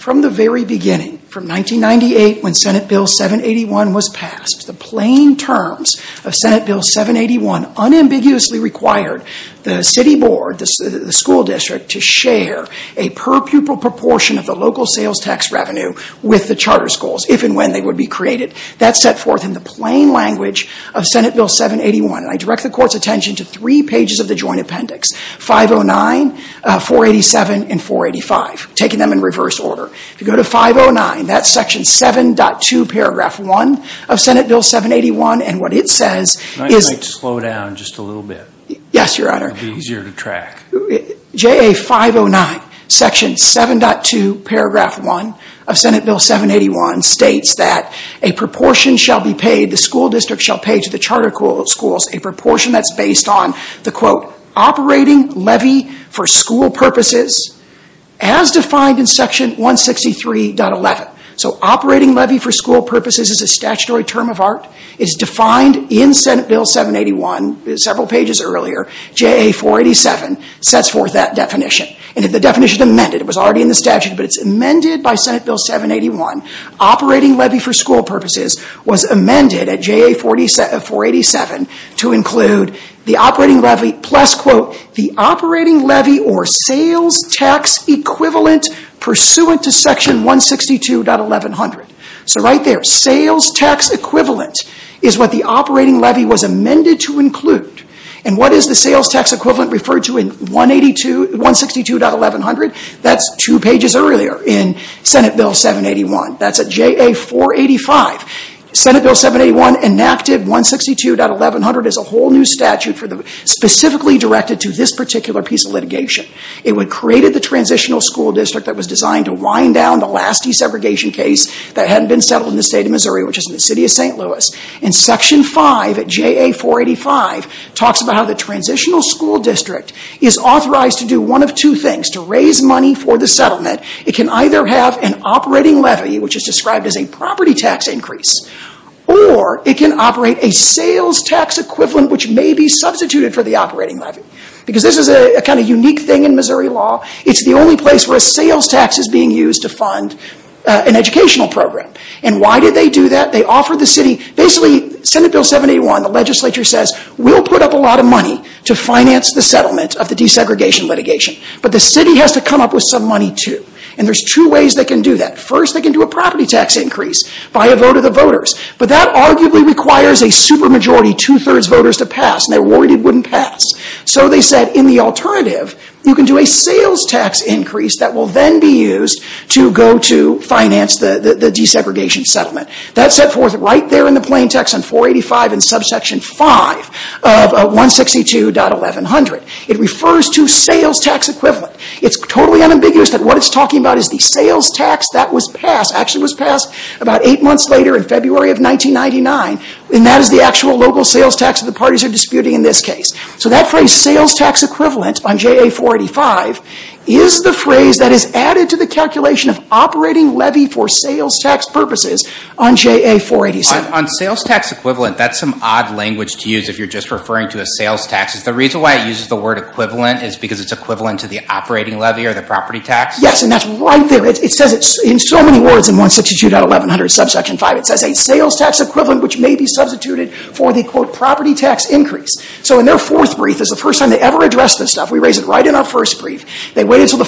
From the very beginning, from 1998 when Senate Bill 781 was passed, the plain terms of Senate Bill 781, and I direct the court's attention to three pages of the joint appendix, 509, 487, and 485, taking them in reverse order. If you go to 509, that's section 7.2, paragraph 1 of Senate Bill 781, and what it says is I'd like to slow down just a little bit. Yes, your honor. It will be easier to track. JA 509, section 7.2, paragraph 1 of Senate Bill 781 states that a proportion shall be paid, the school district shall pay to the charter schools, a proportion that's based on the, quote, operating levy for school purposes, as defined in section 163.11. So operating levy for school purposes is a statutory term of art. It's defined in Senate Bill 781, several pages earlier. JA 487 sets forth that definition, and if the definition amended, it was already in the statute, but it's amended by Senate Bill 781, operating levy for school purposes was amended at JA 487 to include the operating levy plus, quote, the operating levy or sales tax equivalent pursuant to section 162.11. So right there, sales tax equivalent is what the operating levy was amended to include, and what is the sales tax equivalent referred to in 162.1100? That's two pages earlier in Senate Bill 781. That's at JA 485. Senate Bill 781 enacted 162.1100 as a whole new statute specifically directed to this particular piece of litigation. It created the transitional school district that was designed to wind down the last desegregation case that hadn't been settled in the state of Missouri, which is the city of St. Louis. Section 5 at JA 485 talks about how the transitional school district is authorized to do one of two things, to raise money for the settlement. It can either have an operating levy, which is described as a property tax increase, or it can operate a sales tax equivalent, which may be substituted for the operating levy. Because this is a kind of unique thing in Missouri law, it's the only place where a sales tax is being used to fund an educational program. And why did they do that? Basically, Senate Bill 781, the legislature says, we'll put up a lot of money to finance the settlement of the desegregation litigation, but the city has to come up with some money too. And there's two ways they can do that. First, they can do a property tax increase by a vote of the voters. But that arguably requires a supermajority, two-thirds voters to pass, and they're worried it wouldn't pass. So they said, in the alternative, you can do a sales tax increase that will then be used to go to finance the desegregation settlement. That's set forth right there in the plain text on 485 in subsection 5 of 162.1100. It refers to sales tax equivalent. It's totally unambiguous that what it's talking about is the sales tax that was passed, actually was passed about eight months later in February of 1999, and that is the actual local sales tax that the parties are disputing in this case. So that phrase, sales tax equivalent on JA 485, is the phrase that is added to the calculation of operating levy for sales tax purposes on JA 487. On sales tax equivalent, that's some odd language to use if you're just referring to a sales tax. Is the reason why it uses the word equivalent is because it's equivalent to the operating levy or the property tax? Yes, and that's right there. It says it in so many words in 162.1100, subsection 5. It says a sales tax equivalent which may be substituted for the, quote, property tax increase. So in their fourth brief, this is the first time they ever addressed this stuff. We raise it right in our first brief. They waited until the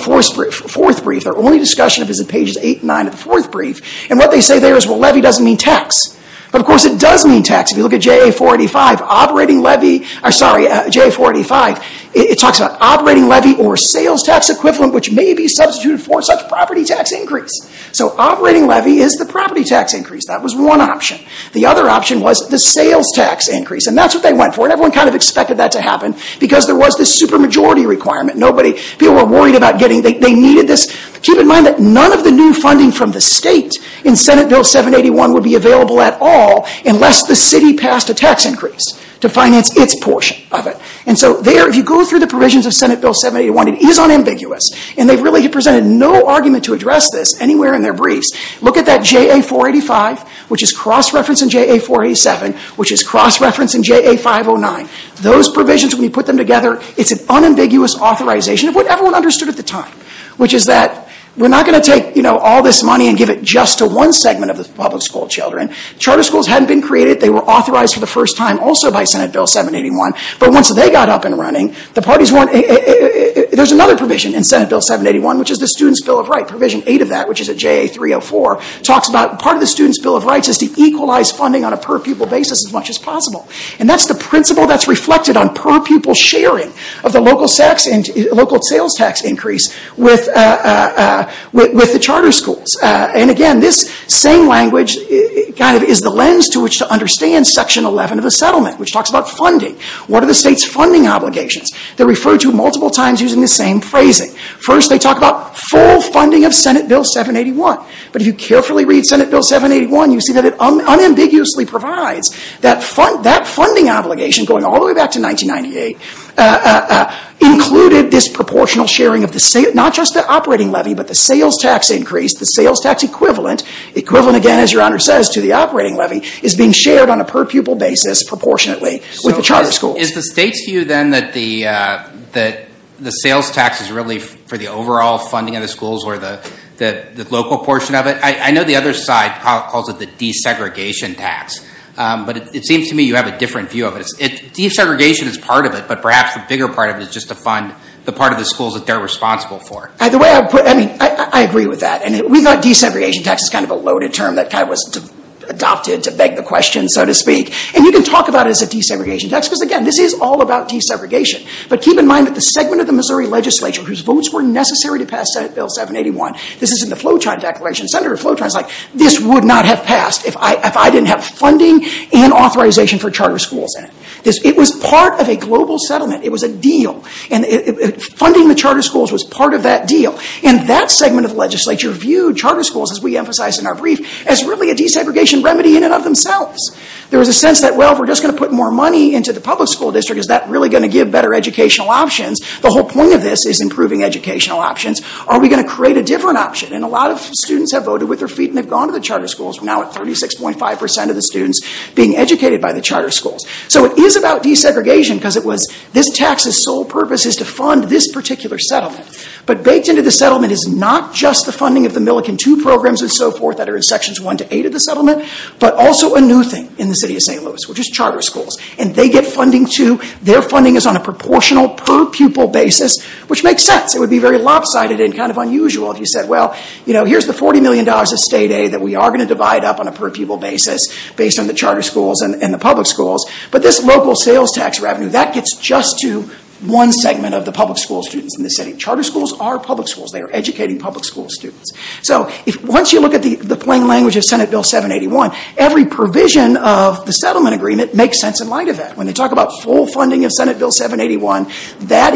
fourth brief. Their only discussion of it is in pages 8 and 9 of the fourth brief. And what they say there is, well, levy doesn't mean tax. But of course it does mean tax. If you look at JA 485, operating levy, or sorry, JA 485, it talks about operating levy or sales tax equivalent which may be substituted for such property tax increase. So operating levy is the property tax increase. That was one option. The other option was the sales tax increase, and that's what they went for. And everyone kind of expected that to happen because there was this super majority requirement. Nobody, people were worried about getting, they needed this. Keep in mind that none of the new funding from the state in Senate Bill 781 would be available at all unless the city passed a tax increase to finance its portion of it. And so there, if you go through the provisions of Senate Bill 781, it is unambiguous. And they've really presented no argument to address this anywhere in their briefs. Look at that JA 485, which is cross-referenced in JA 487, which is cross-referenced in JA 509. Those provisions, when you put them together, it's an unambiguous authorization of what everyone understood at the time, which is that we're not going to take, you know, all this money and give it just to one segment of the public school children. Charter schools hadn't been created. They were authorized for the first time also by Senate Bill 781. But once they got up and running, the parties weren't, there's another provision in Senate Bill 781, which is the Students' Bill of Rights. Provision 8 of that, which is at JA 304, talks about part of the Students' Bill of Rights is to equalize funding on a per-pupil basis as much as possible. And that's the principle that's reflected on per-pupil sharing of the local sales tax increase with the charter schools. And again, this same language kind of is the lens to which to understand Section 11 of the settlement, which talks about funding. What are the state's funding obligations? They're referred to multiple times using the same phrasing. First, they talk about full funding of Senate Bill 781. But if you carefully read Senate Bill 781, you see that it unambiguously provides that funding obligation, going all the way back to 1998, included this proportional sharing of not just the operating levy, but the sales tax increase. The sales tax equivalent, equivalent again, as Your Honor says, to the operating levy, is being shared on a per-pupil basis proportionately with the charter schools. Is the state's view then that the sales tax is really for the overall funding of the schools or the local portion of it? I know the other side calls it the desegregation tax. But it seems to me you have a different view of it. Desegregation is part of it, but perhaps the bigger part of it is just to fund the part of the schools that they're responsible for. I agree with that. And we thought desegregation tax is kind of a loaded term that was adopted to beg the question, so to speak. And you can talk about it as a desegregation tax, because again, this is all about desegregation. But keep in mind that the segment of the Missouri legislature whose votes were necessary to pass Senate Bill 781, this is in the Floetron Declaration. Senator Floetron is like, this would not have passed if I didn't have funding and authorization for charter schools in it. It was part of a global settlement. It was a deal. Funding the charter schools was part of that deal. And that segment of the legislature viewed charter schools, as we emphasized in our brief, as really a desegregation remedy in and of themselves. There was a sense that, well, if we're just going to put more money into the public school district, is that really going to give better educational options? The whole point of this is improving educational options. Are we going to create a different option? And a lot of students have voted with their feet, and they've gone to the charter schools. We're now at 36.5% of the students being educated by the charter schools. So it is about desegregation, because it was this tax's sole purpose is to fund this particular settlement. But baked into the settlement is not just the funding of the Millican II programs and so forth that are in Sections 1 to 8 of the settlement, but also a new thing in the city of St. Louis, which is charter schools. And they get funding, too. Their funding is on a proportional per-pupil basis, which makes sense. It would be very lopsided and kind of unusual if you said, well, here's the $40 million of state aid that we are going to divide up on a per-pupil basis based on the charter schools and the public schools. But this local sales tax revenue, that gets just to one segment of the public school students in the city. Charter schools are public schools. They are educating public school students. So once you look at the plain language of Senate Bill 781, every provision of the settlement agreement makes sense in light of that. When they talk about full funding of Senate Bill 781, that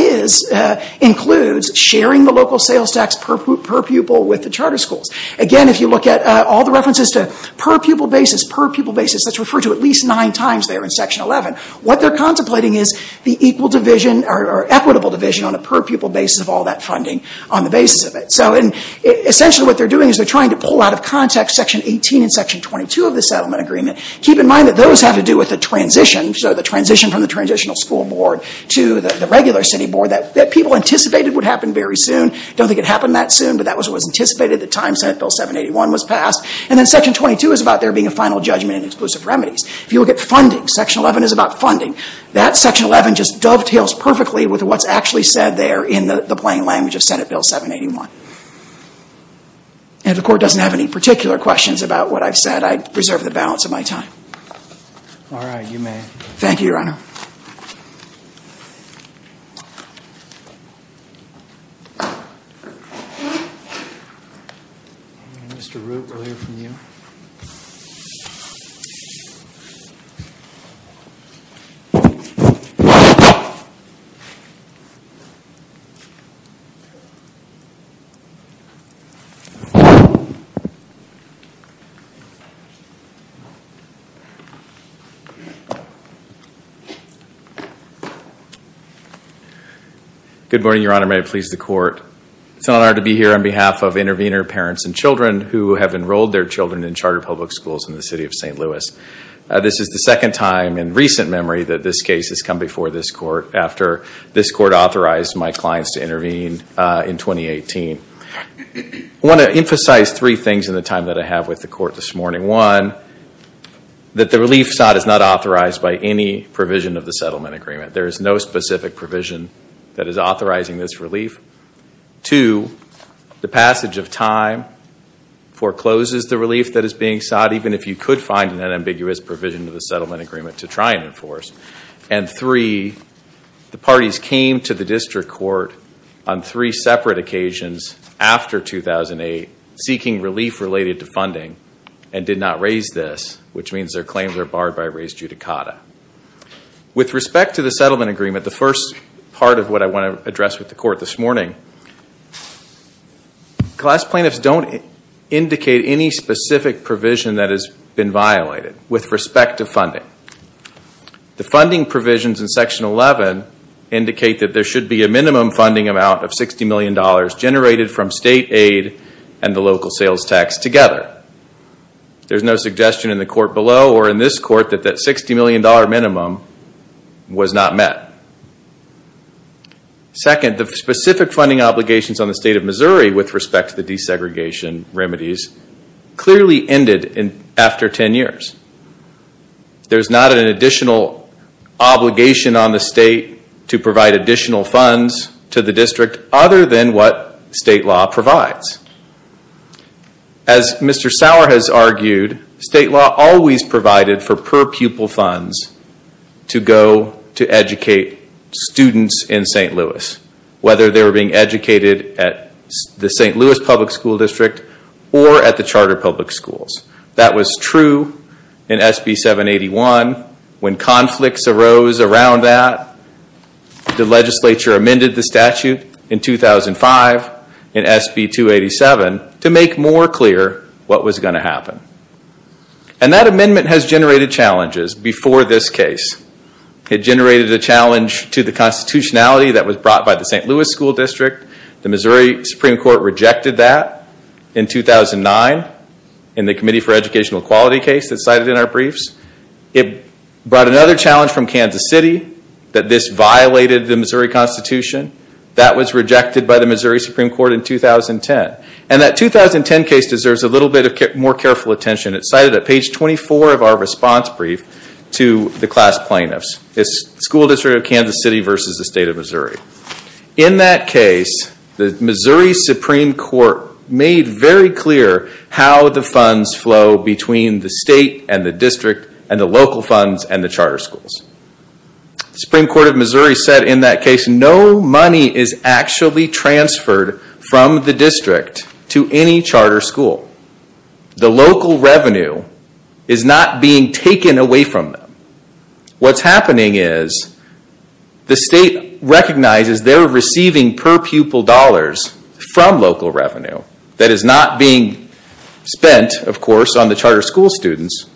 includes sharing the local sales tax per pupil with the charter schools. Again, if you look at all the references to per-pupil basis, per-pupil basis, that's referred to at least nine times there in Section 11. What they are contemplating is the equitable division on a per-pupil basis of all that funding on the basis of it. So essentially what they are doing is they are trying to pull out of context Section 18 and Section 22 of the settlement agreement. Keep in mind that those have to do with the transition. So the transition from the transitional school board to the regular city board that people anticipated would happen very soon. I don't think it happened that soon, but that was what was anticipated at the time Senate Bill 781 was passed. And then Section 22 is about there being a final judgment and exclusive remedies. If you look at funding, Section 11 is about funding. That Section 11 just dovetails perfectly with what's actually said there in the plain language of Senate Bill 781. If the court doesn't have any particular questions about what I've said, I reserve the balance of my time. All right, you may. Thank you, Your Honor. Mr. Root, we'll hear from you. Good morning, Your Honor. May it please the court. It's an honor to be here on behalf of intervener parents and children who have enrolled their children in charter public schools in the city of St. Louis. This is the second time in recent memory that this case has come before this court after this court authorized my clients to intervene in 2018. I want to emphasize three things in the time that I have with the court this morning. One, that the relief sought is not authorized by any provision of the settlement agreement. There is no specific provision that is authorizing this relief. Two, the passage of time forecloses the relief that is being sought, even if you could find an ambiguous provision of the settlement agreement to try and enforce. And three, the parties came to the district court on three separate occasions after 2008 seeking relief related to funding and did not raise this, which means their claims are barred by raised judicata. With respect to the settlement agreement, the first part of what I want to address with the court this morning, class plaintiffs don't indicate any specific provision that has been violated with respect to funding. The funding provisions in section 11 indicate that there should be a minimum funding amount of $60 million generated from state aid and the local sales tax together. There is no suggestion in the court below or in this court that that $60 million minimum was not met. Second, the specific funding obligations on the state of Missouri with respect to the desegregation remedies clearly ended after 10 years. There is not an additional obligation on the state to provide additional funds to the district other than what state law provides. As Mr. Sauer has argued, state law always provided for per-pupil funds to go to educate students in St. Louis, whether they were being educated at the St. Louis public school district or at the charter public schools. That was true in SB 781. When conflicts arose around that, the legislature amended the statute in 2005 in SB 287 to make more clear what was going to happen. And that amendment has generated challenges before this case. It generated a challenge to the constitutionality that was brought by the St. Louis school district. The Missouri Supreme Court rejected that in 2009. In the Committee for Educational Equality case that is cited in our briefs, it brought another challenge from Kansas City that this violated the Missouri constitution. That was rejected by the Missouri Supreme Court in 2010. And that 2010 case deserves a little bit more careful attention. It is cited at page 24 of our response brief to the class plaintiffs. It is the school district of Kansas City versus the state of Missouri. In that case, the Missouri Supreme Court made very clear how the funds flow between the state and the district and the local funds and the charter schools. The Supreme Court of Missouri said in that case, no money is actually transferred from the district to any charter school. The local revenue is not being taken away from them. What is happening is the state recognizes they are receiving per-pupil dollars from local revenue that is not being spent, of course, on the charter school students.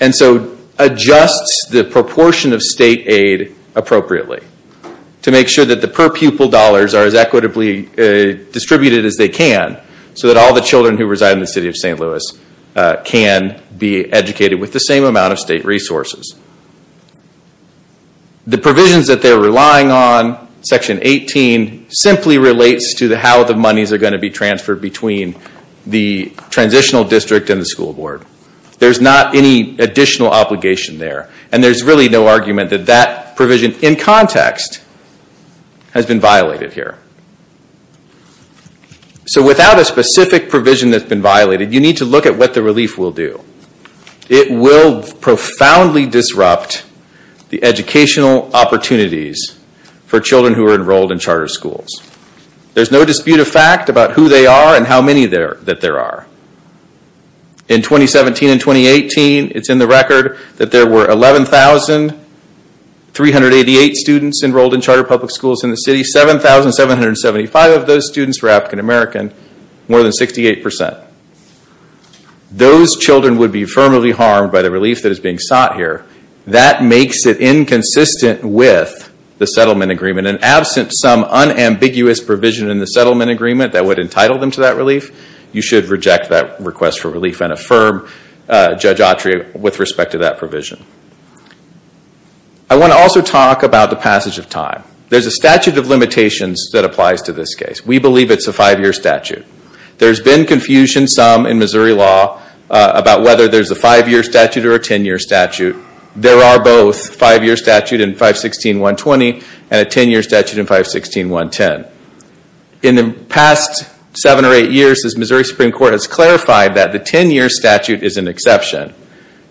And so adjusts the proportion of state aid appropriately to make sure that the per-pupil dollars are as equitably distributed as they can so that all the children who reside in the city of St. Louis can be educated with the same amount of state resources. The provisions that they are relying on, Section 18, simply relates to how the monies are going to be transferred between the transitional district and the school board. There is not any additional obligation there. And there is really no argument that that provision in context has been violated here. So without a specific provision that has been violated, you need to look at what the relief will do. It will profoundly disrupt the educational opportunities for children who are enrolled in charter schools. There is no dispute of fact about who they are and how many that there are. In 2017 and 2018, it is in the record that there were 11,388 students enrolled in charter public schools in the city. 7,775 of those students were African American, more than 68%. Those children would be firmly harmed by the relief that is being sought here. That makes it inconsistent with the settlement agreement. And absent some unambiguous provision in the settlement agreement that would entitle them to that relief, you should reject that request for relief and affirm Judge Autry with respect to that provision. I want to also talk about the passage of time. There is a statute of limitations that applies to this case. We believe it is a 5-year statute. There has been confusion, some, in Missouri law about whether there is a 5-year statute or a 10-year statute. There are both a 5-year statute in 516.120 and a 10-year statute in 516.110. In the past 7 or 8 years, the Missouri Supreme Court has clarified that the 10-year statute is an exception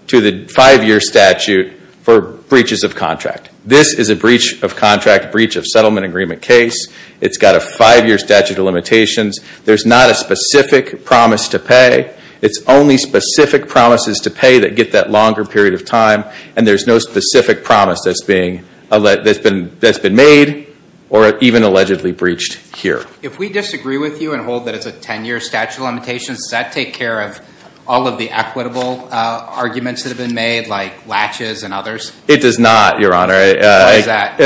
to the 5-year statute for breaches of contract. This is a breach of contract, breach of settlement agreement case. It has a 5-year statute of limitations. There is not a specific promise to pay. It is only specific promises to pay that get that longer period of time, and there is no specific promise that has been made or even allegedly breached here. If we disagree with you and hold that it is a 10-year statute of limitations, does that take care of all of the equitable arguments that have been made, like latches and others? It does not, Your Honor. Why is that?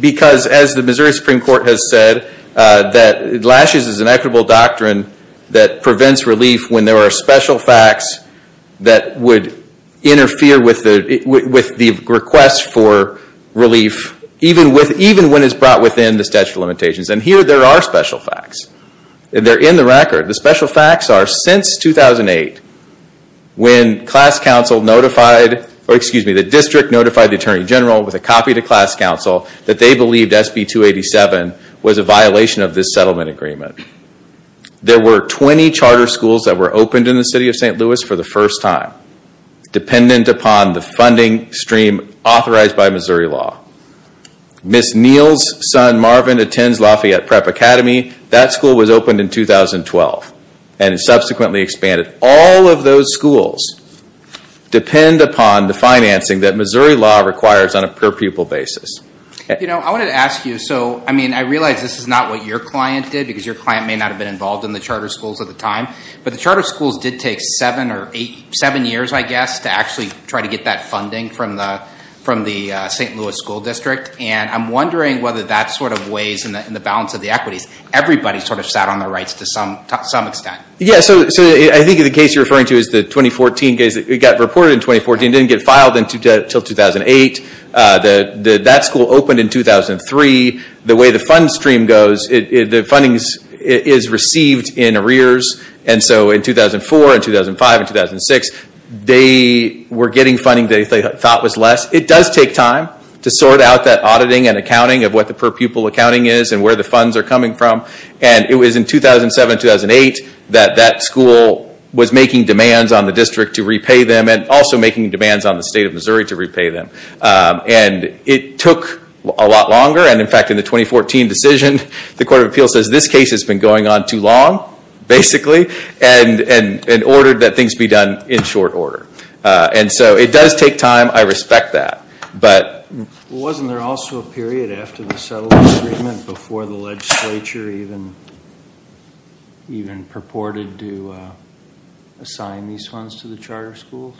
Because, as the Missouri Supreme Court has said, that latches is an equitable doctrine that prevents relief when there are special facts that would interfere with the request for relief, even when it is brought within the statute of limitations. And here there are special facts. They are in the record. The special facts are, since 2008, when the district notified the Attorney General with a copy to class council that they believed SB 287 was a violation of this settlement agreement. There were 20 charter schools that were opened in the city of St. Louis for the first time, dependent upon the funding stream authorized by Missouri law. Ms. Neal's son Marvin attends Lafayette Prep Academy. That school was opened in 2012 and subsequently expanded. All of those schools depend upon the financing that Missouri law requires on a per-pupil basis. I wanted to ask you, I realize this is not what your client did, because your client may not have been involved in the charter schools at the time, but the charter schools did take seven years, I guess, to actually try to get that funding from the St. Louis School District, and I'm wondering whether that sort of weighs in the balance of the equities. Everybody sort of sat on their rights to some extent. Yeah, so I think the case you're referring to is the 2014 case. It got reported in 2014, didn't get filed until 2008. That school opened in 2003. The way the fund stream goes, the funding is received in arrears, and so in 2004 and 2005 and 2006, they were getting funding they thought was less. It does take time to sort out that auditing and accounting of what the per-pupil accounting is and where the funds are coming from. It was in 2007-2008 that that school was making demands on the district to repay them and also making demands on the state of Missouri to repay them. It took a lot longer, and in fact in the 2014 decision, the Court of Appeals says this case has been going on too long, basically, and ordered that things be done in short order. It does take time. I respect that. Wasn't there also a period after the settlement agreement before the legislature even purported to assign these funds to the charter schools?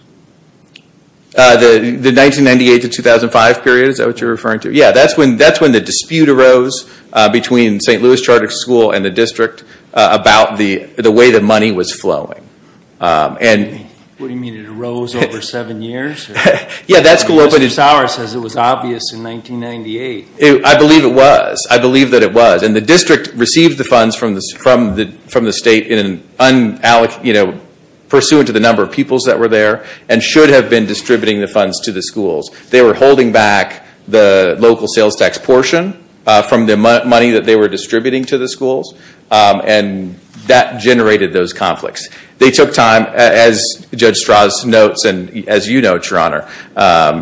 The 1998-2005 period, is that what you're referring to? Yeah, that's when the dispute arose between St. Louis Charter School and the district about the way the money was flowing. What do you mean? It arose over seven years? Mr. Sauer says it was obvious in 1998. I believe it was. I believe that it was. And the district received the funds from the state in an unallocated, pursuant to the number of pupils that were there, and should have been distributing the funds to the schools. They were holding back the local sales tax portion from the money that they were distributing to the schools, and that generated those conflicts. They took time, as Judge Strauss notes, and as you note, Your Honor,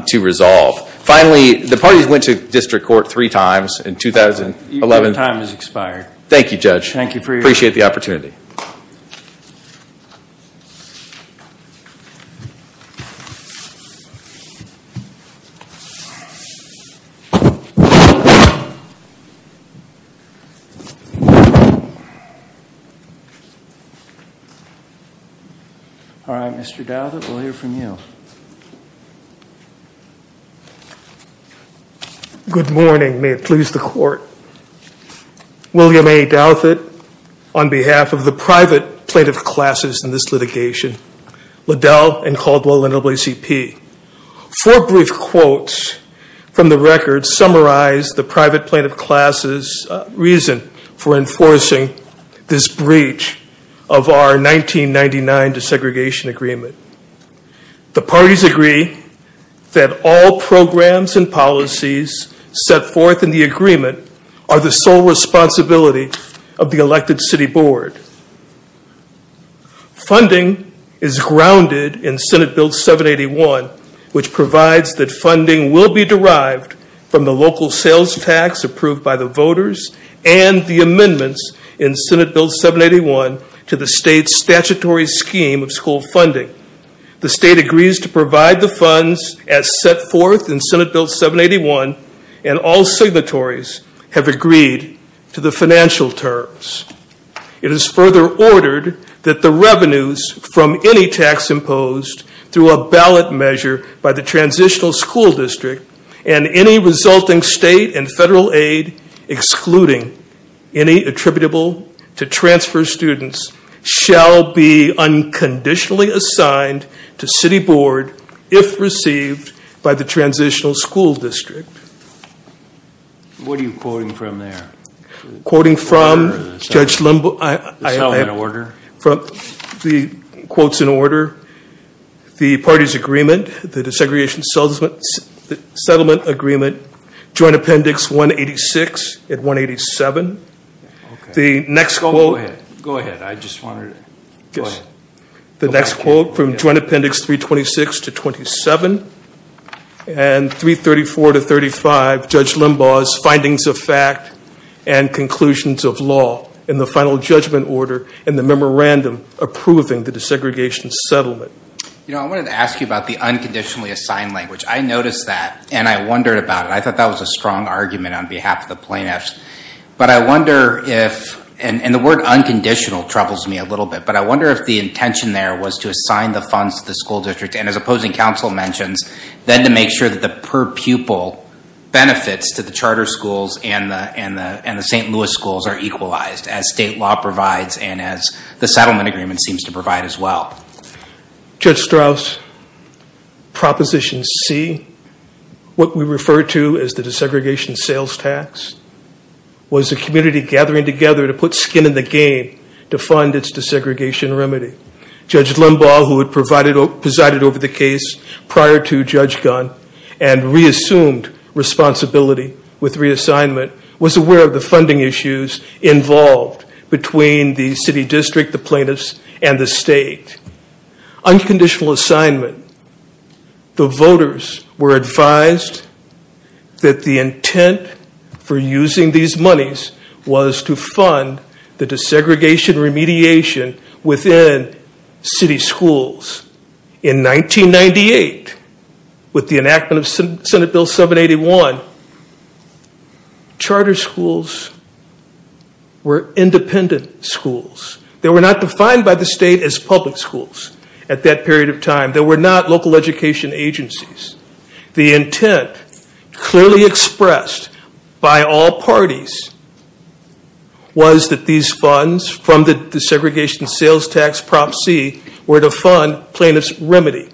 to resolve. Finally, the parties went to district court three times in 2011. Your time has expired. Thank you, Judge. Thank you for your time. I appreciate the opportunity. All right, Mr. Douthit, we'll hear from you. Good morning. May it please the Court. William A. Douthit, on behalf of the private plaintiff classes in this litigation. Liddell and Caldwell, NAACP. Four brief quotes from the record summarize the private plaintiff classes' reason for enforcing this breach of our 1999 desegregation agreement. The parties agree that all programs and policies set forth in the agreement are the sole responsibility of the elected city board. Funding is grounded in Senate Bill 781, which provides that funding will be derived from the local sales tax approved by the voters and the amendments in Senate Bill 781 to the state's statutory scheme of school funding. The state agrees to provide the funds as set forth in Senate Bill 781, and all signatories have agreed to the financial terms. It is further ordered that the revenues from any tax imposed through a ballot measure by the transitional school district and any resulting state and federal aid excluding any attributable to transfer students shall be unconditionally assigned to city board if received by the transitional school district. What are you quoting from there? Quoting from Judge Limbaugh. Is that all in order? The quote's in order. The parties' agreement, the desegregation settlement agreement, joint appendix 186 and 187. The next quote. Go ahead. I just wanted to go ahead. The next quote from joint appendix 326 to 27, and 334 to 35, Judge Limbaugh's findings of fact and conclusions of law and the final judgment order and the memorandum approving the desegregation settlement. You know, I wanted to ask you about the unconditionally assigned language. I noticed that, and I wondered about it. I thought that was a strong argument on behalf of the plaintiffs. But I wonder if, and the word unconditional troubles me a little bit, but I wonder if the intention there was to assign the funds to the school district, and as opposing counsel mentions, then to make sure that the per pupil benefits to the charter schools and the St. Louis schools are equalized as state law provides and as the settlement agreement seems to provide as well. Judge Strauss, Proposition C, what we refer to as the desegregation sales tax, was a community gathering together to put skin in the game to fund its desegregation remedy. Judge Limbaugh, who had presided over the case prior to Judge Gunn, and reassumed responsibility with reassignment, was aware of the funding issues involved between the city district, the plaintiffs, and the state. Unconditional assignment, the voters were advised that the intent for using these monies was to fund the desegregation remediation within city schools. In 1998, with the enactment of Senate Bill 781, charter schools were independent schools. They were not defined by the state as public schools at that period of time. They were not local education agencies. The intent, clearly expressed by all parties, was that these funds from the desegregation sales tax Prop. C were to fund plaintiff's remedy.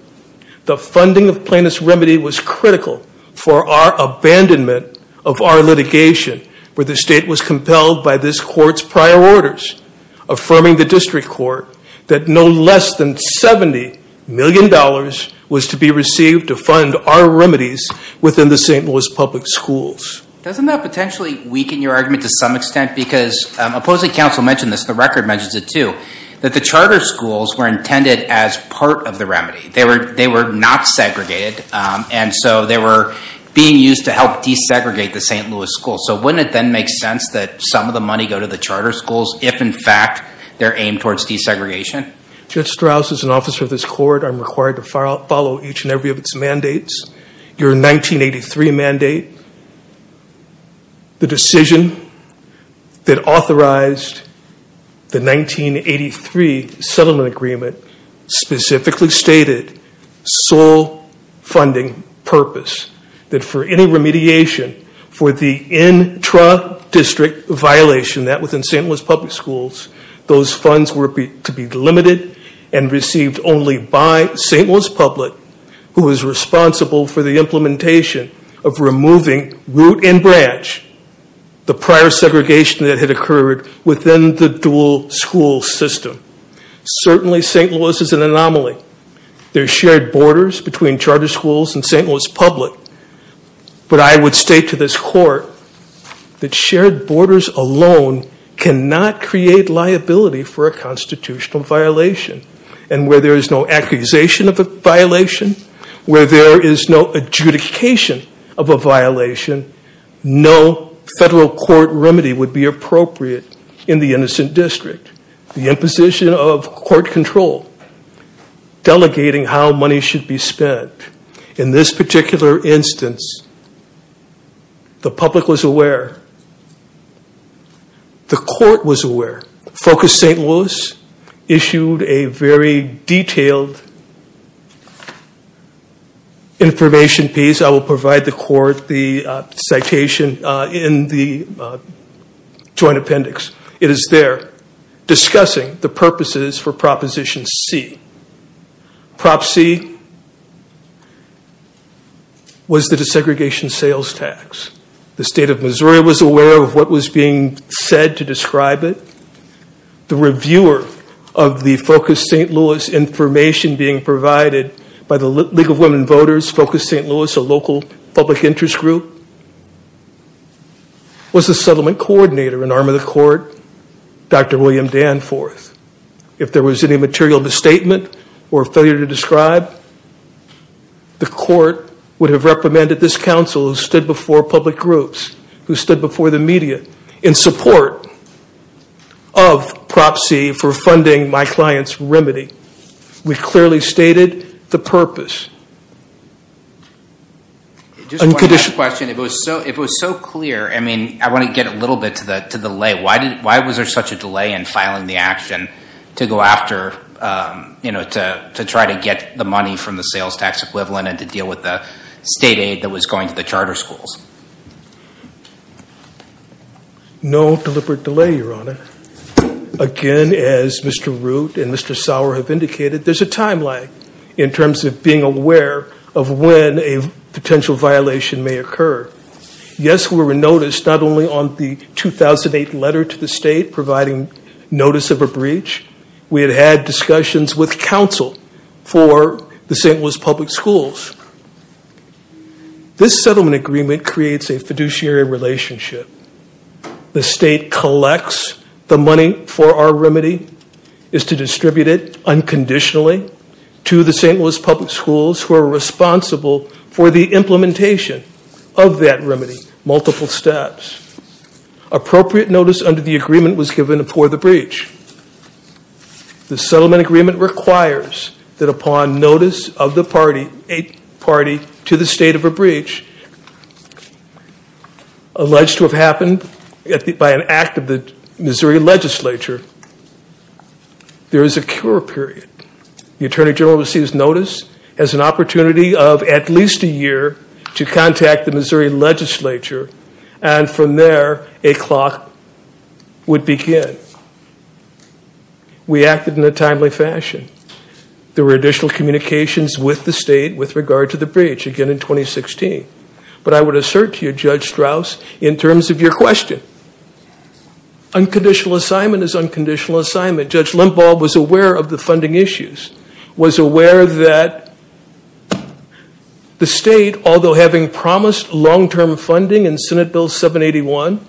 The funding of plaintiff's remedy was critical for our abandonment of our litigation where the state was compelled by this court's prior orders, affirming the district court that no less than $70 million was to be received to fund our remedies within the St. Louis public schools. Doesn't that potentially weaken your argument to some extent? Because opposing counsel mentioned this, the record mentions it too, that the charter schools were intended as part of the remedy. They were not segregated, and so they were being used to help desegregate the St. Louis schools. So wouldn't it then make sense that some of the money go to the charter schools if in fact they're aimed towards desegregation? Judge Strauss, as an officer of this court, I'm required to follow each and every of its mandates. Your 1983 mandate, the decision that authorized the 1983 settlement agreement, specifically stated sole funding purpose, that for any remediation for the intra-district violation that was in St. Louis public schools, those funds were to be delimited and received only by St. Louis public who was responsible for the implementation of removing root and branch, the prior segregation that had occurred within the dual school system. Certainly St. Louis is an anomaly. There are shared borders between charter schools and St. Louis public, but I would state to this court that shared borders alone cannot create liability for a constitutional violation. And where there is no accusation of a violation, where there is no adjudication of a violation, no federal court remedy would be appropriate in the innocent district. The imposition of court control, delegating how money should be spent. In this particular instance, the public was aware, the court was aware, FOCUS St. Louis issued a very detailed information piece. I will provide the court the citation in the joint appendix. It is there discussing the purposes for Proposition C. Prop C was the desegregation sales tax. The state of Missouri was aware of what was being said to describe it. The reviewer of the FOCUS St. Louis information being provided by the League of Women Voters, FOCUS St. Louis, a local public interest group, was the settlement coordinator in arm of the court, Dr. William Danforth. If there was any material misstatement or failure to describe, the court would have recommended this counsel who stood before public groups, who stood before the media, in support of Prop C for funding my client's remedy. We clearly stated the purpose. Just one last question. If it was so clear, I mean, I want to get a little bit to the lay. Why was there such a delay in filing the action to go after, to try to get the money from the sales tax equivalent and to deal with the state aid that was going to the charter schools? No deliberate delay, Your Honor. Again, as Mr. Root and Mr. Sauer have indicated, there's a time lag in terms of being aware of when a potential violation may occur. Yes, we were noticed not only on the 2008 letter to the state providing notice of a breach. We had had discussions with counsel for the St. Louis public schools. This settlement agreement creates a fiduciary relationship. The state collects the money for our remedy, is to distribute it unconditionally to the St. Louis public schools who are responsible for the implementation of that remedy, multiple steps. Appropriate notice under the agreement was given for the breach. The settlement agreement requires that upon notice of the party to the state of a breach, alleged to have happened by an act of the Missouri legislature, there is a cure period. The Attorney General receives notice as an opportunity of at least a year to contact the Missouri legislature and from there a clock would begin. We acted in a timely fashion. There were additional communications with the state with regard to the breach, again in 2016. But I would assert to you, Judge Strauss, in terms of your question, unconditional assignment is unconditional assignment. Judge Limbaugh was aware of the funding issues, was aware that the state, although having promised long-term funding in Senate Bill 781,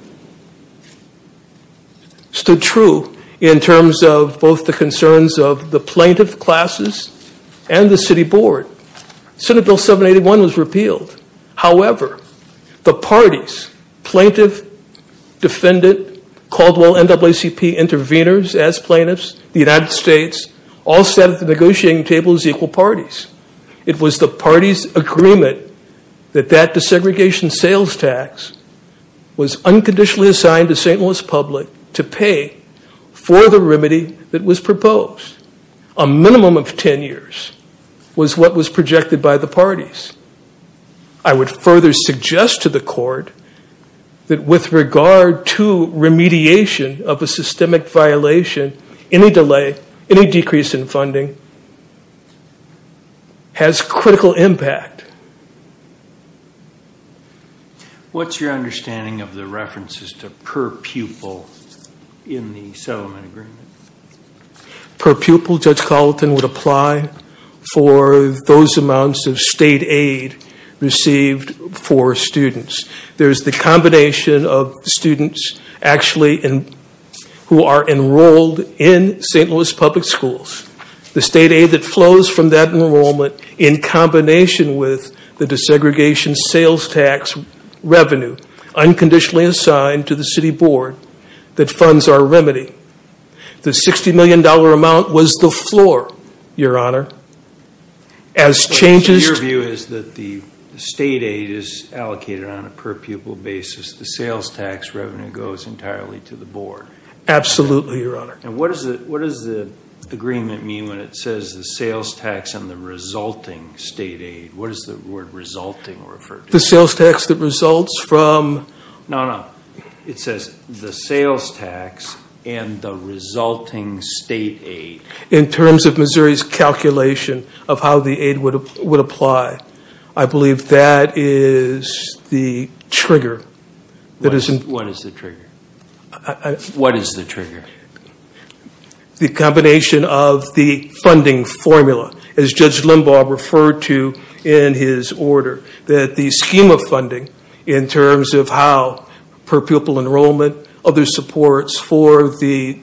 stood true in terms of both the concerns of the plaintiff classes and the city board. Senate Bill 781 was repealed. However, the parties, plaintiff, defendant, Caldwell NAACP intervenors as plaintiffs, the United States, all sat at the negotiating table as equal parties. It was the party's agreement that that desegregation sales tax was unconditionally assigned to St. Louis public to pay for the remedy that was proposed. A minimum of 10 years was what was projected by the parties. I would further suggest to the court that with regard to remediation of a systemic violation, any delay, any decrease in funding has critical impact. What's your understanding of the references to per pupil in the settlement agreement? Per pupil, Judge Carlton would apply for those amounts of state aid received for students. There's the combination of students actually who are enrolled in St. Louis public schools. The state aid that flows from that enrollment in combination with the desegregation sales tax revenue unconditionally assigned to the city board that funds our remedy. The $60 million amount was the floor, Your Honor. Your view is that the state aid is allocated on a per pupil basis. The sales tax revenue goes entirely to the board. Absolutely, Your Honor. What does the agreement mean when it says the sales tax and the resulting state aid? What does the word resulting refer to? The sales tax that results from? No, no. It says the sales tax and the resulting state aid. In terms of Missouri's calculation of how the aid would apply. I believe that is the trigger. What is the trigger? What is the trigger? The combination of the funding formula as Judge Limbaugh referred to in his order. That the scheme of funding in terms of how per pupil enrollment, other supports for the.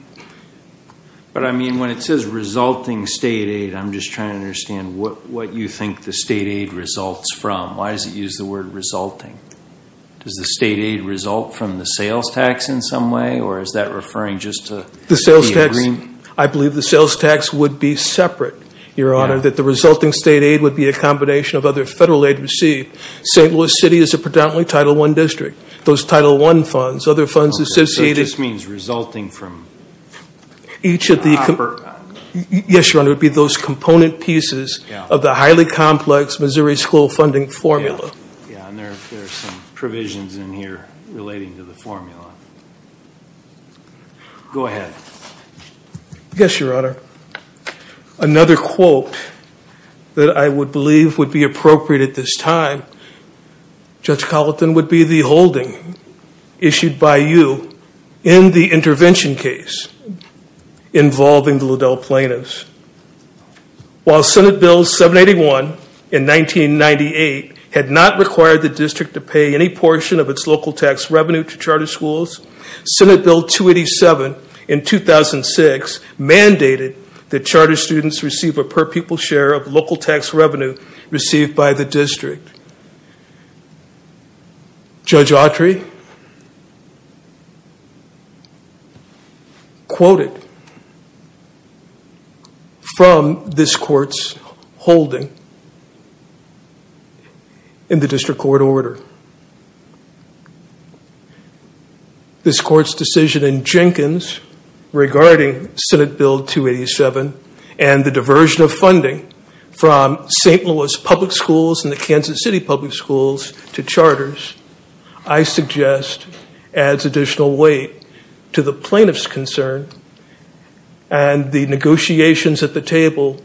But I mean when it says resulting state aid, I'm just trying to understand what you think the state aid results from. Why does it use the word resulting? Does the state aid result from the sales tax in some way or is that referring just to the agreement? I believe the sales tax would be separate, Your Honor. That the resulting state aid would be a combination of other federal aid received. St. Louis City is a predominantly Title I district. Those Title I funds, other funds associated. So it just means resulting from? Yes, Your Honor. It would be those component pieces of the highly complex Missouri school funding formula. Yeah, and there are some provisions in here relating to the formula. Go ahead. Yes, Your Honor. Another quote that I would believe would be appropriate at this time. Judge Colleton would be the holding issued by you in the intervention case involving the Liddell plaintiffs. While Senate Bill 781 in 1998 had not required the district to pay any portion of its local tax revenue to charter schools. Senate Bill 287 in 2006 mandated that charter students receive a per people share of local tax revenue received by the district. Judge Autry quoted from this court's holding in the district court order. This court's decision in Jenkins regarding Senate Bill 287 and the diversion of funding from St. Louis public schools and the Kansas City public schools to charters. I suggest adds additional weight to the plaintiff's concern. And the negotiations at the table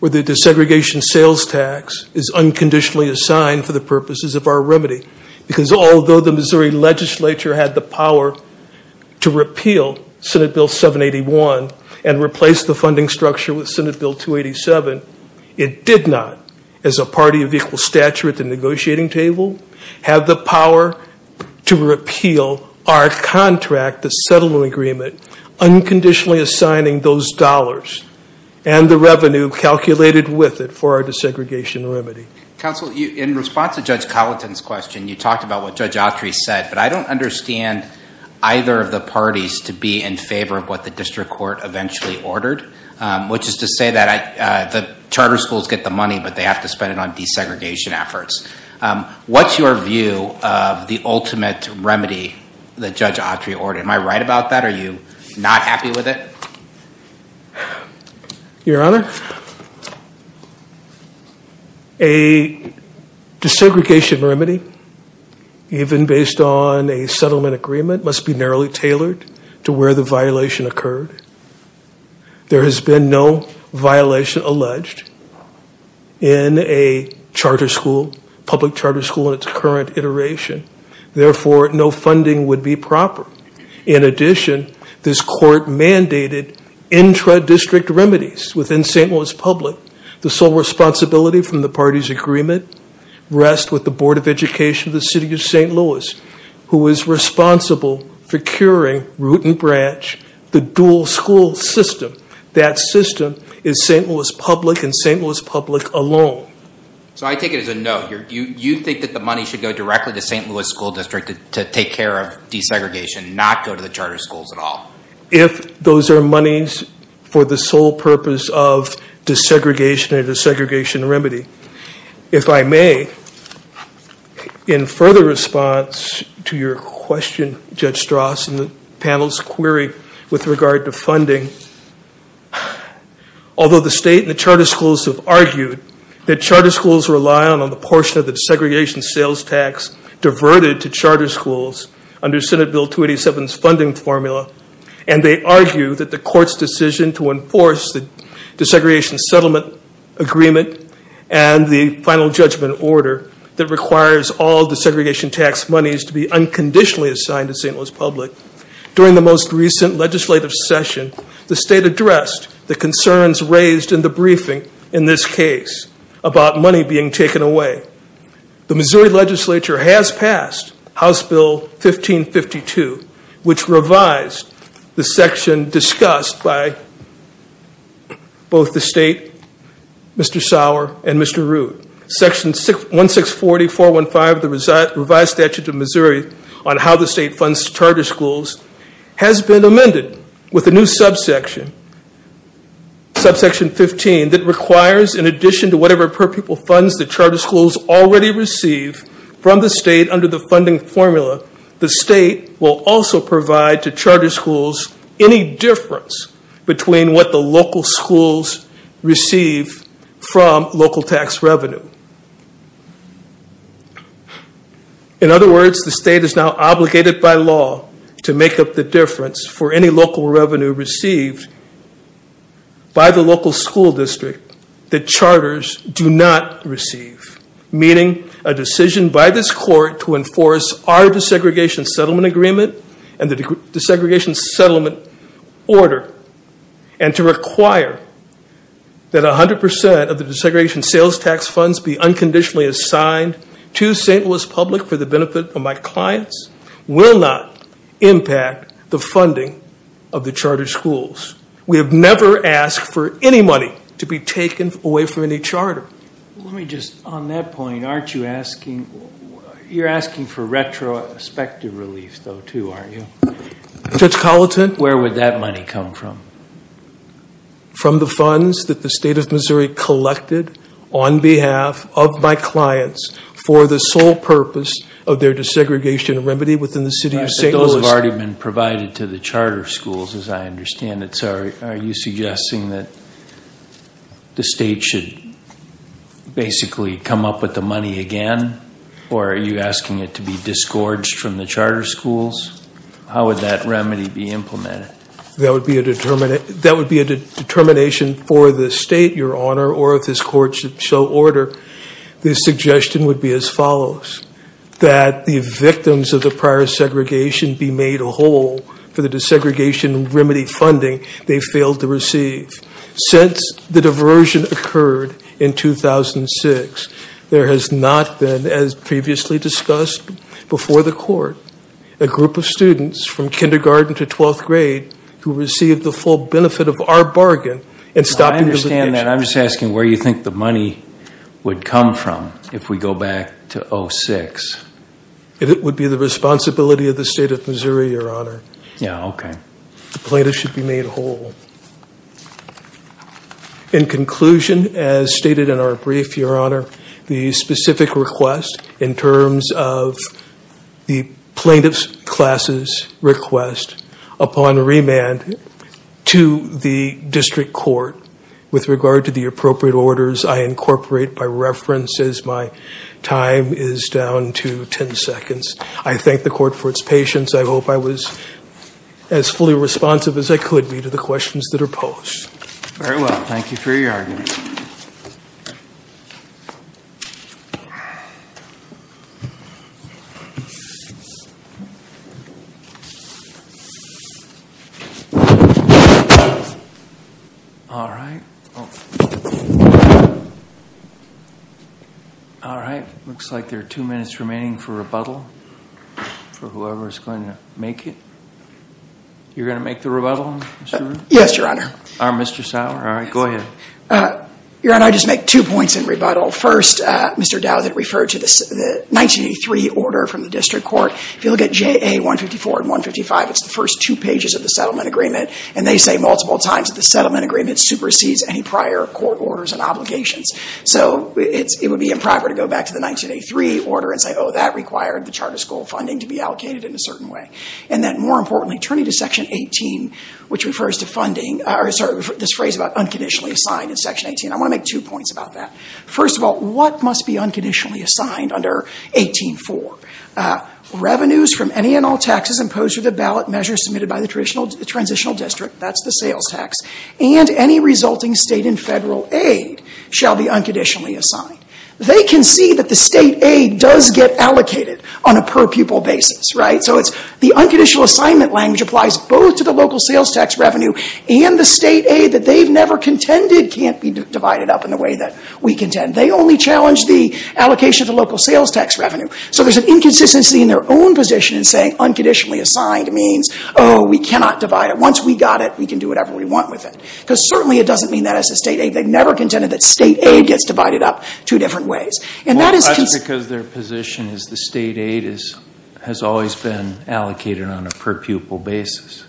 with the desegregation sales tax is unconditionally assigned for the purposes of our remedy. Because although the Missouri legislature had the power to repeal Senate Bill 781 and replace the funding structure with Senate Bill 287. It did not, as a party of equal stature at the negotiating table, have the power to repeal our contract, the settlement agreement, unconditionally assigning those dollars and the revenue calculated with it for our desegregation remedy. Counsel, in response to Judge Colleton's question, you talked about what Judge Autry said. But I don't understand either of the parties to be in favor of what the district court eventually ordered. Which is to say that the charter schools get the money, but they have to spend it on desegregation efforts. What's your view of the ultimate remedy that Judge Autry ordered? Am I right about that? Are you not happy with it? Your Honor, a desegregation remedy, even based on a settlement agreement, must be narrowly tailored to where the violation occurred. There has been no violation alleged in a charter school, public charter school, in its current iteration. Therefore, no funding would be proper. In addition, this court mandated intra-district remedies within St. Louis Public. The sole responsibility from the party's agreement rests with the Board of Education of the City of St. Louis, who is responsible for curing, root and branch, the dual school system. That system is St. Louis Public and St. Louis Public alone. So I take it as a no. You think that the money should go directly to St. Louis School District to take care of desegregation, not go to the charter schools at all? If those are monies for the sole purpose of desegregation and desegregation remedy, if I may, in further response to your question, Judge Strauss, and the panel's query with regard to funding, although the state and the charter schools have argued that charter schools rely on the portion of the desegregation sales tax diverted to charter schools under Senate Bill 287's funding formula, and they argue that the court's decision to enforce the desegregation settlement agreement and the final judgment order that requires all desegregation tax monies to be unconditionally assigned to St. Louis Public, during the most recent legislative session, the state addressed the concerns raised in the briefing in this case about money being taken away. The Missouri legislature has passed House Bill 1552, which revised the section discussed by both the state, Mr. Sauer, and Mr. Root. Section 1640.415 of the revised statute of Missouri on how the state funds charter schools has been amended with a new subsection, subsection 15, that requires in addition to whatever per-pupil funds the charter schools already receive from the state under the funding formula, the state will also provide to charter schools any difference between what the local schools receive from local tax revenue. In other words, the state is now obligated by law to make up the difference for any local revenue received by the local school district that charters do not receive, meaning a decision by this court to enforce our desegregation settlement agreement and the desegregation settlement order, and to require that 100% of the desegregation sales tax funds be unconditionally assigned to St. Louis Public for the benefit of my clients, will not impact the funding of the charter schools. We have never asked for any money to be taken away from any charter. Let me just, on that point, aren't you asking, you're asking for retrospective relief, though, too, aren't you? Judge Colleton? Where would that money come from? From the funds that the state of Missouri collected on behalf of my clients for the sole purpose of their desegregation remedy within the city of St. Louis. Those have already been provided to the charter schools, as I understand it, so are you suggesting that the state should basically come up with the money again, or are you asking it to be disgorged from the charter schools? How would that remedy be implemented? That would be a determination for the state, Your Honor, or if this court should show order, the suggestion would be as follows. That the victims of the prior segregation be made whole for the desegregation remedy funding they failed to receive. Since the diversion occurred in 2006, there has not been, as previously discussed before the court, a group of students from kindergarten to twelfth grade who received the full benefit of our bargain in stopping the litigation. I understand that. I'm just asking where you think the money would come from if we go back to 2006. It would be the responsibility of the state of Missouri, Your Honor. Yeah, okay. The plaintiffs should be made whole. In conclusion, as stated in our brief, Your Honor, the specific request in terms of the plaintiff's class's request upon remand to the district court, with regard to the appropriate orders I incorporate by reference as my time is down to ten seconds. I thank the court for its patience. I hope I was as fully responsive as I could be to the questions that are posed. Very well. Thank you for your argument. All right. All right. Looks like there are two minutes remaining for rebuttal for whoever is going to make it. You're going to make the rebuttal? Yes, Your Honor. Mr. Sauer? All right. Go ahead. Your Honor, I just make two points in rebuttal. First, Mr. Dowden referred to the 1983 order from the district court. If you look at JA 154 and 155, it's the first two pages of the settlement agreement, and they say multiple times that the settlement agreement supersedes any prior court orders and obligations. So it would be improper to go back to the 1983 order and say, oh, that required the charter school funding to be allocated in a certain way. And then, more importantly, turning to Section 18, which refers to funding or, sorry, this phrase about unconditionally assigned in Section 18, I want to make two points about that. First of all, what must be unconditionally assigned under 18-4? Revenues from any and all taxes imposed through the ballot measure submitted by the transitional district, that's the sales tax, and any resulting state and federal aid shall be unconditionally assigned. They can see that the state aid does get allocated on a per-pupil basis, right? So the unconditional assignment language applies both to the local sales tax revenue and the state aid that they've never contended can't be divided up in the way that we contend. They only challenge the allocation of the local sales tax revenue. So there's an inconsistency in their own position in saying unconditionally assigned means, oh, we cannot divide it. Once we got it, we can do whatever we want with it. Because certainly it doesn't mean that as a state aid. They've never contended that state aid gets divided up two different ways. And that is because their position is the state aid has always been allocated on a per-pupil basis.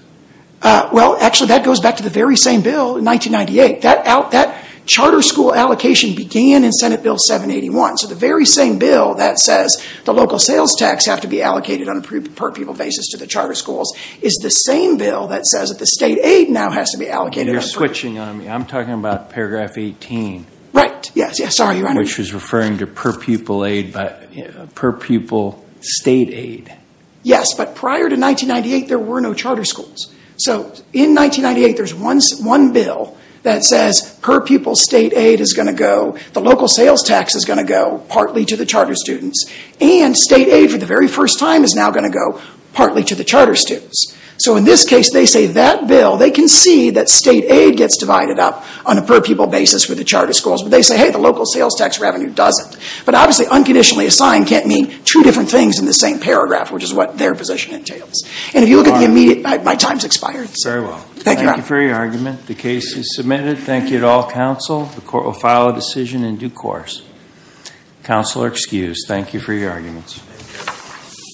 Well, actually, that goes back to the very same bill in 1998. That charter school allocation began in Senate Bill 781. So the very same bill that says the local sales tax have to be allocated on a per-pupil basis to the charter schools is the same bill that says that the state aid now has to be allocated on a per-pupil basis. You're switching on me. I'm talking about Paragraph 18. Right. Yes, sorry. Which is referring to per-pupil state aid. Yes, but prior to 1998, there were no charter schools. So in 1998, there's one bill that says per-pupil state aid is going to go, the local sales tax is going to go partly to the charter students, and state aid for the very first time is now going to go partly to the charter students. So in this case, they say that bill, they can see that state aid gets divided up on a per-pupil basis for the charter schools. But they say, hey, the local sales tax revenue doesn't. But obviously, unconditionally assigned can't mean two different things in the same paragraph, which is what their position entails. And if you look at the immediate, my time's expired. Very well. Thank you for your argument. The case is submitted. Thank you to all counsel. The court will file a decision in due course. Counsel are excused. Thank you for your arguments.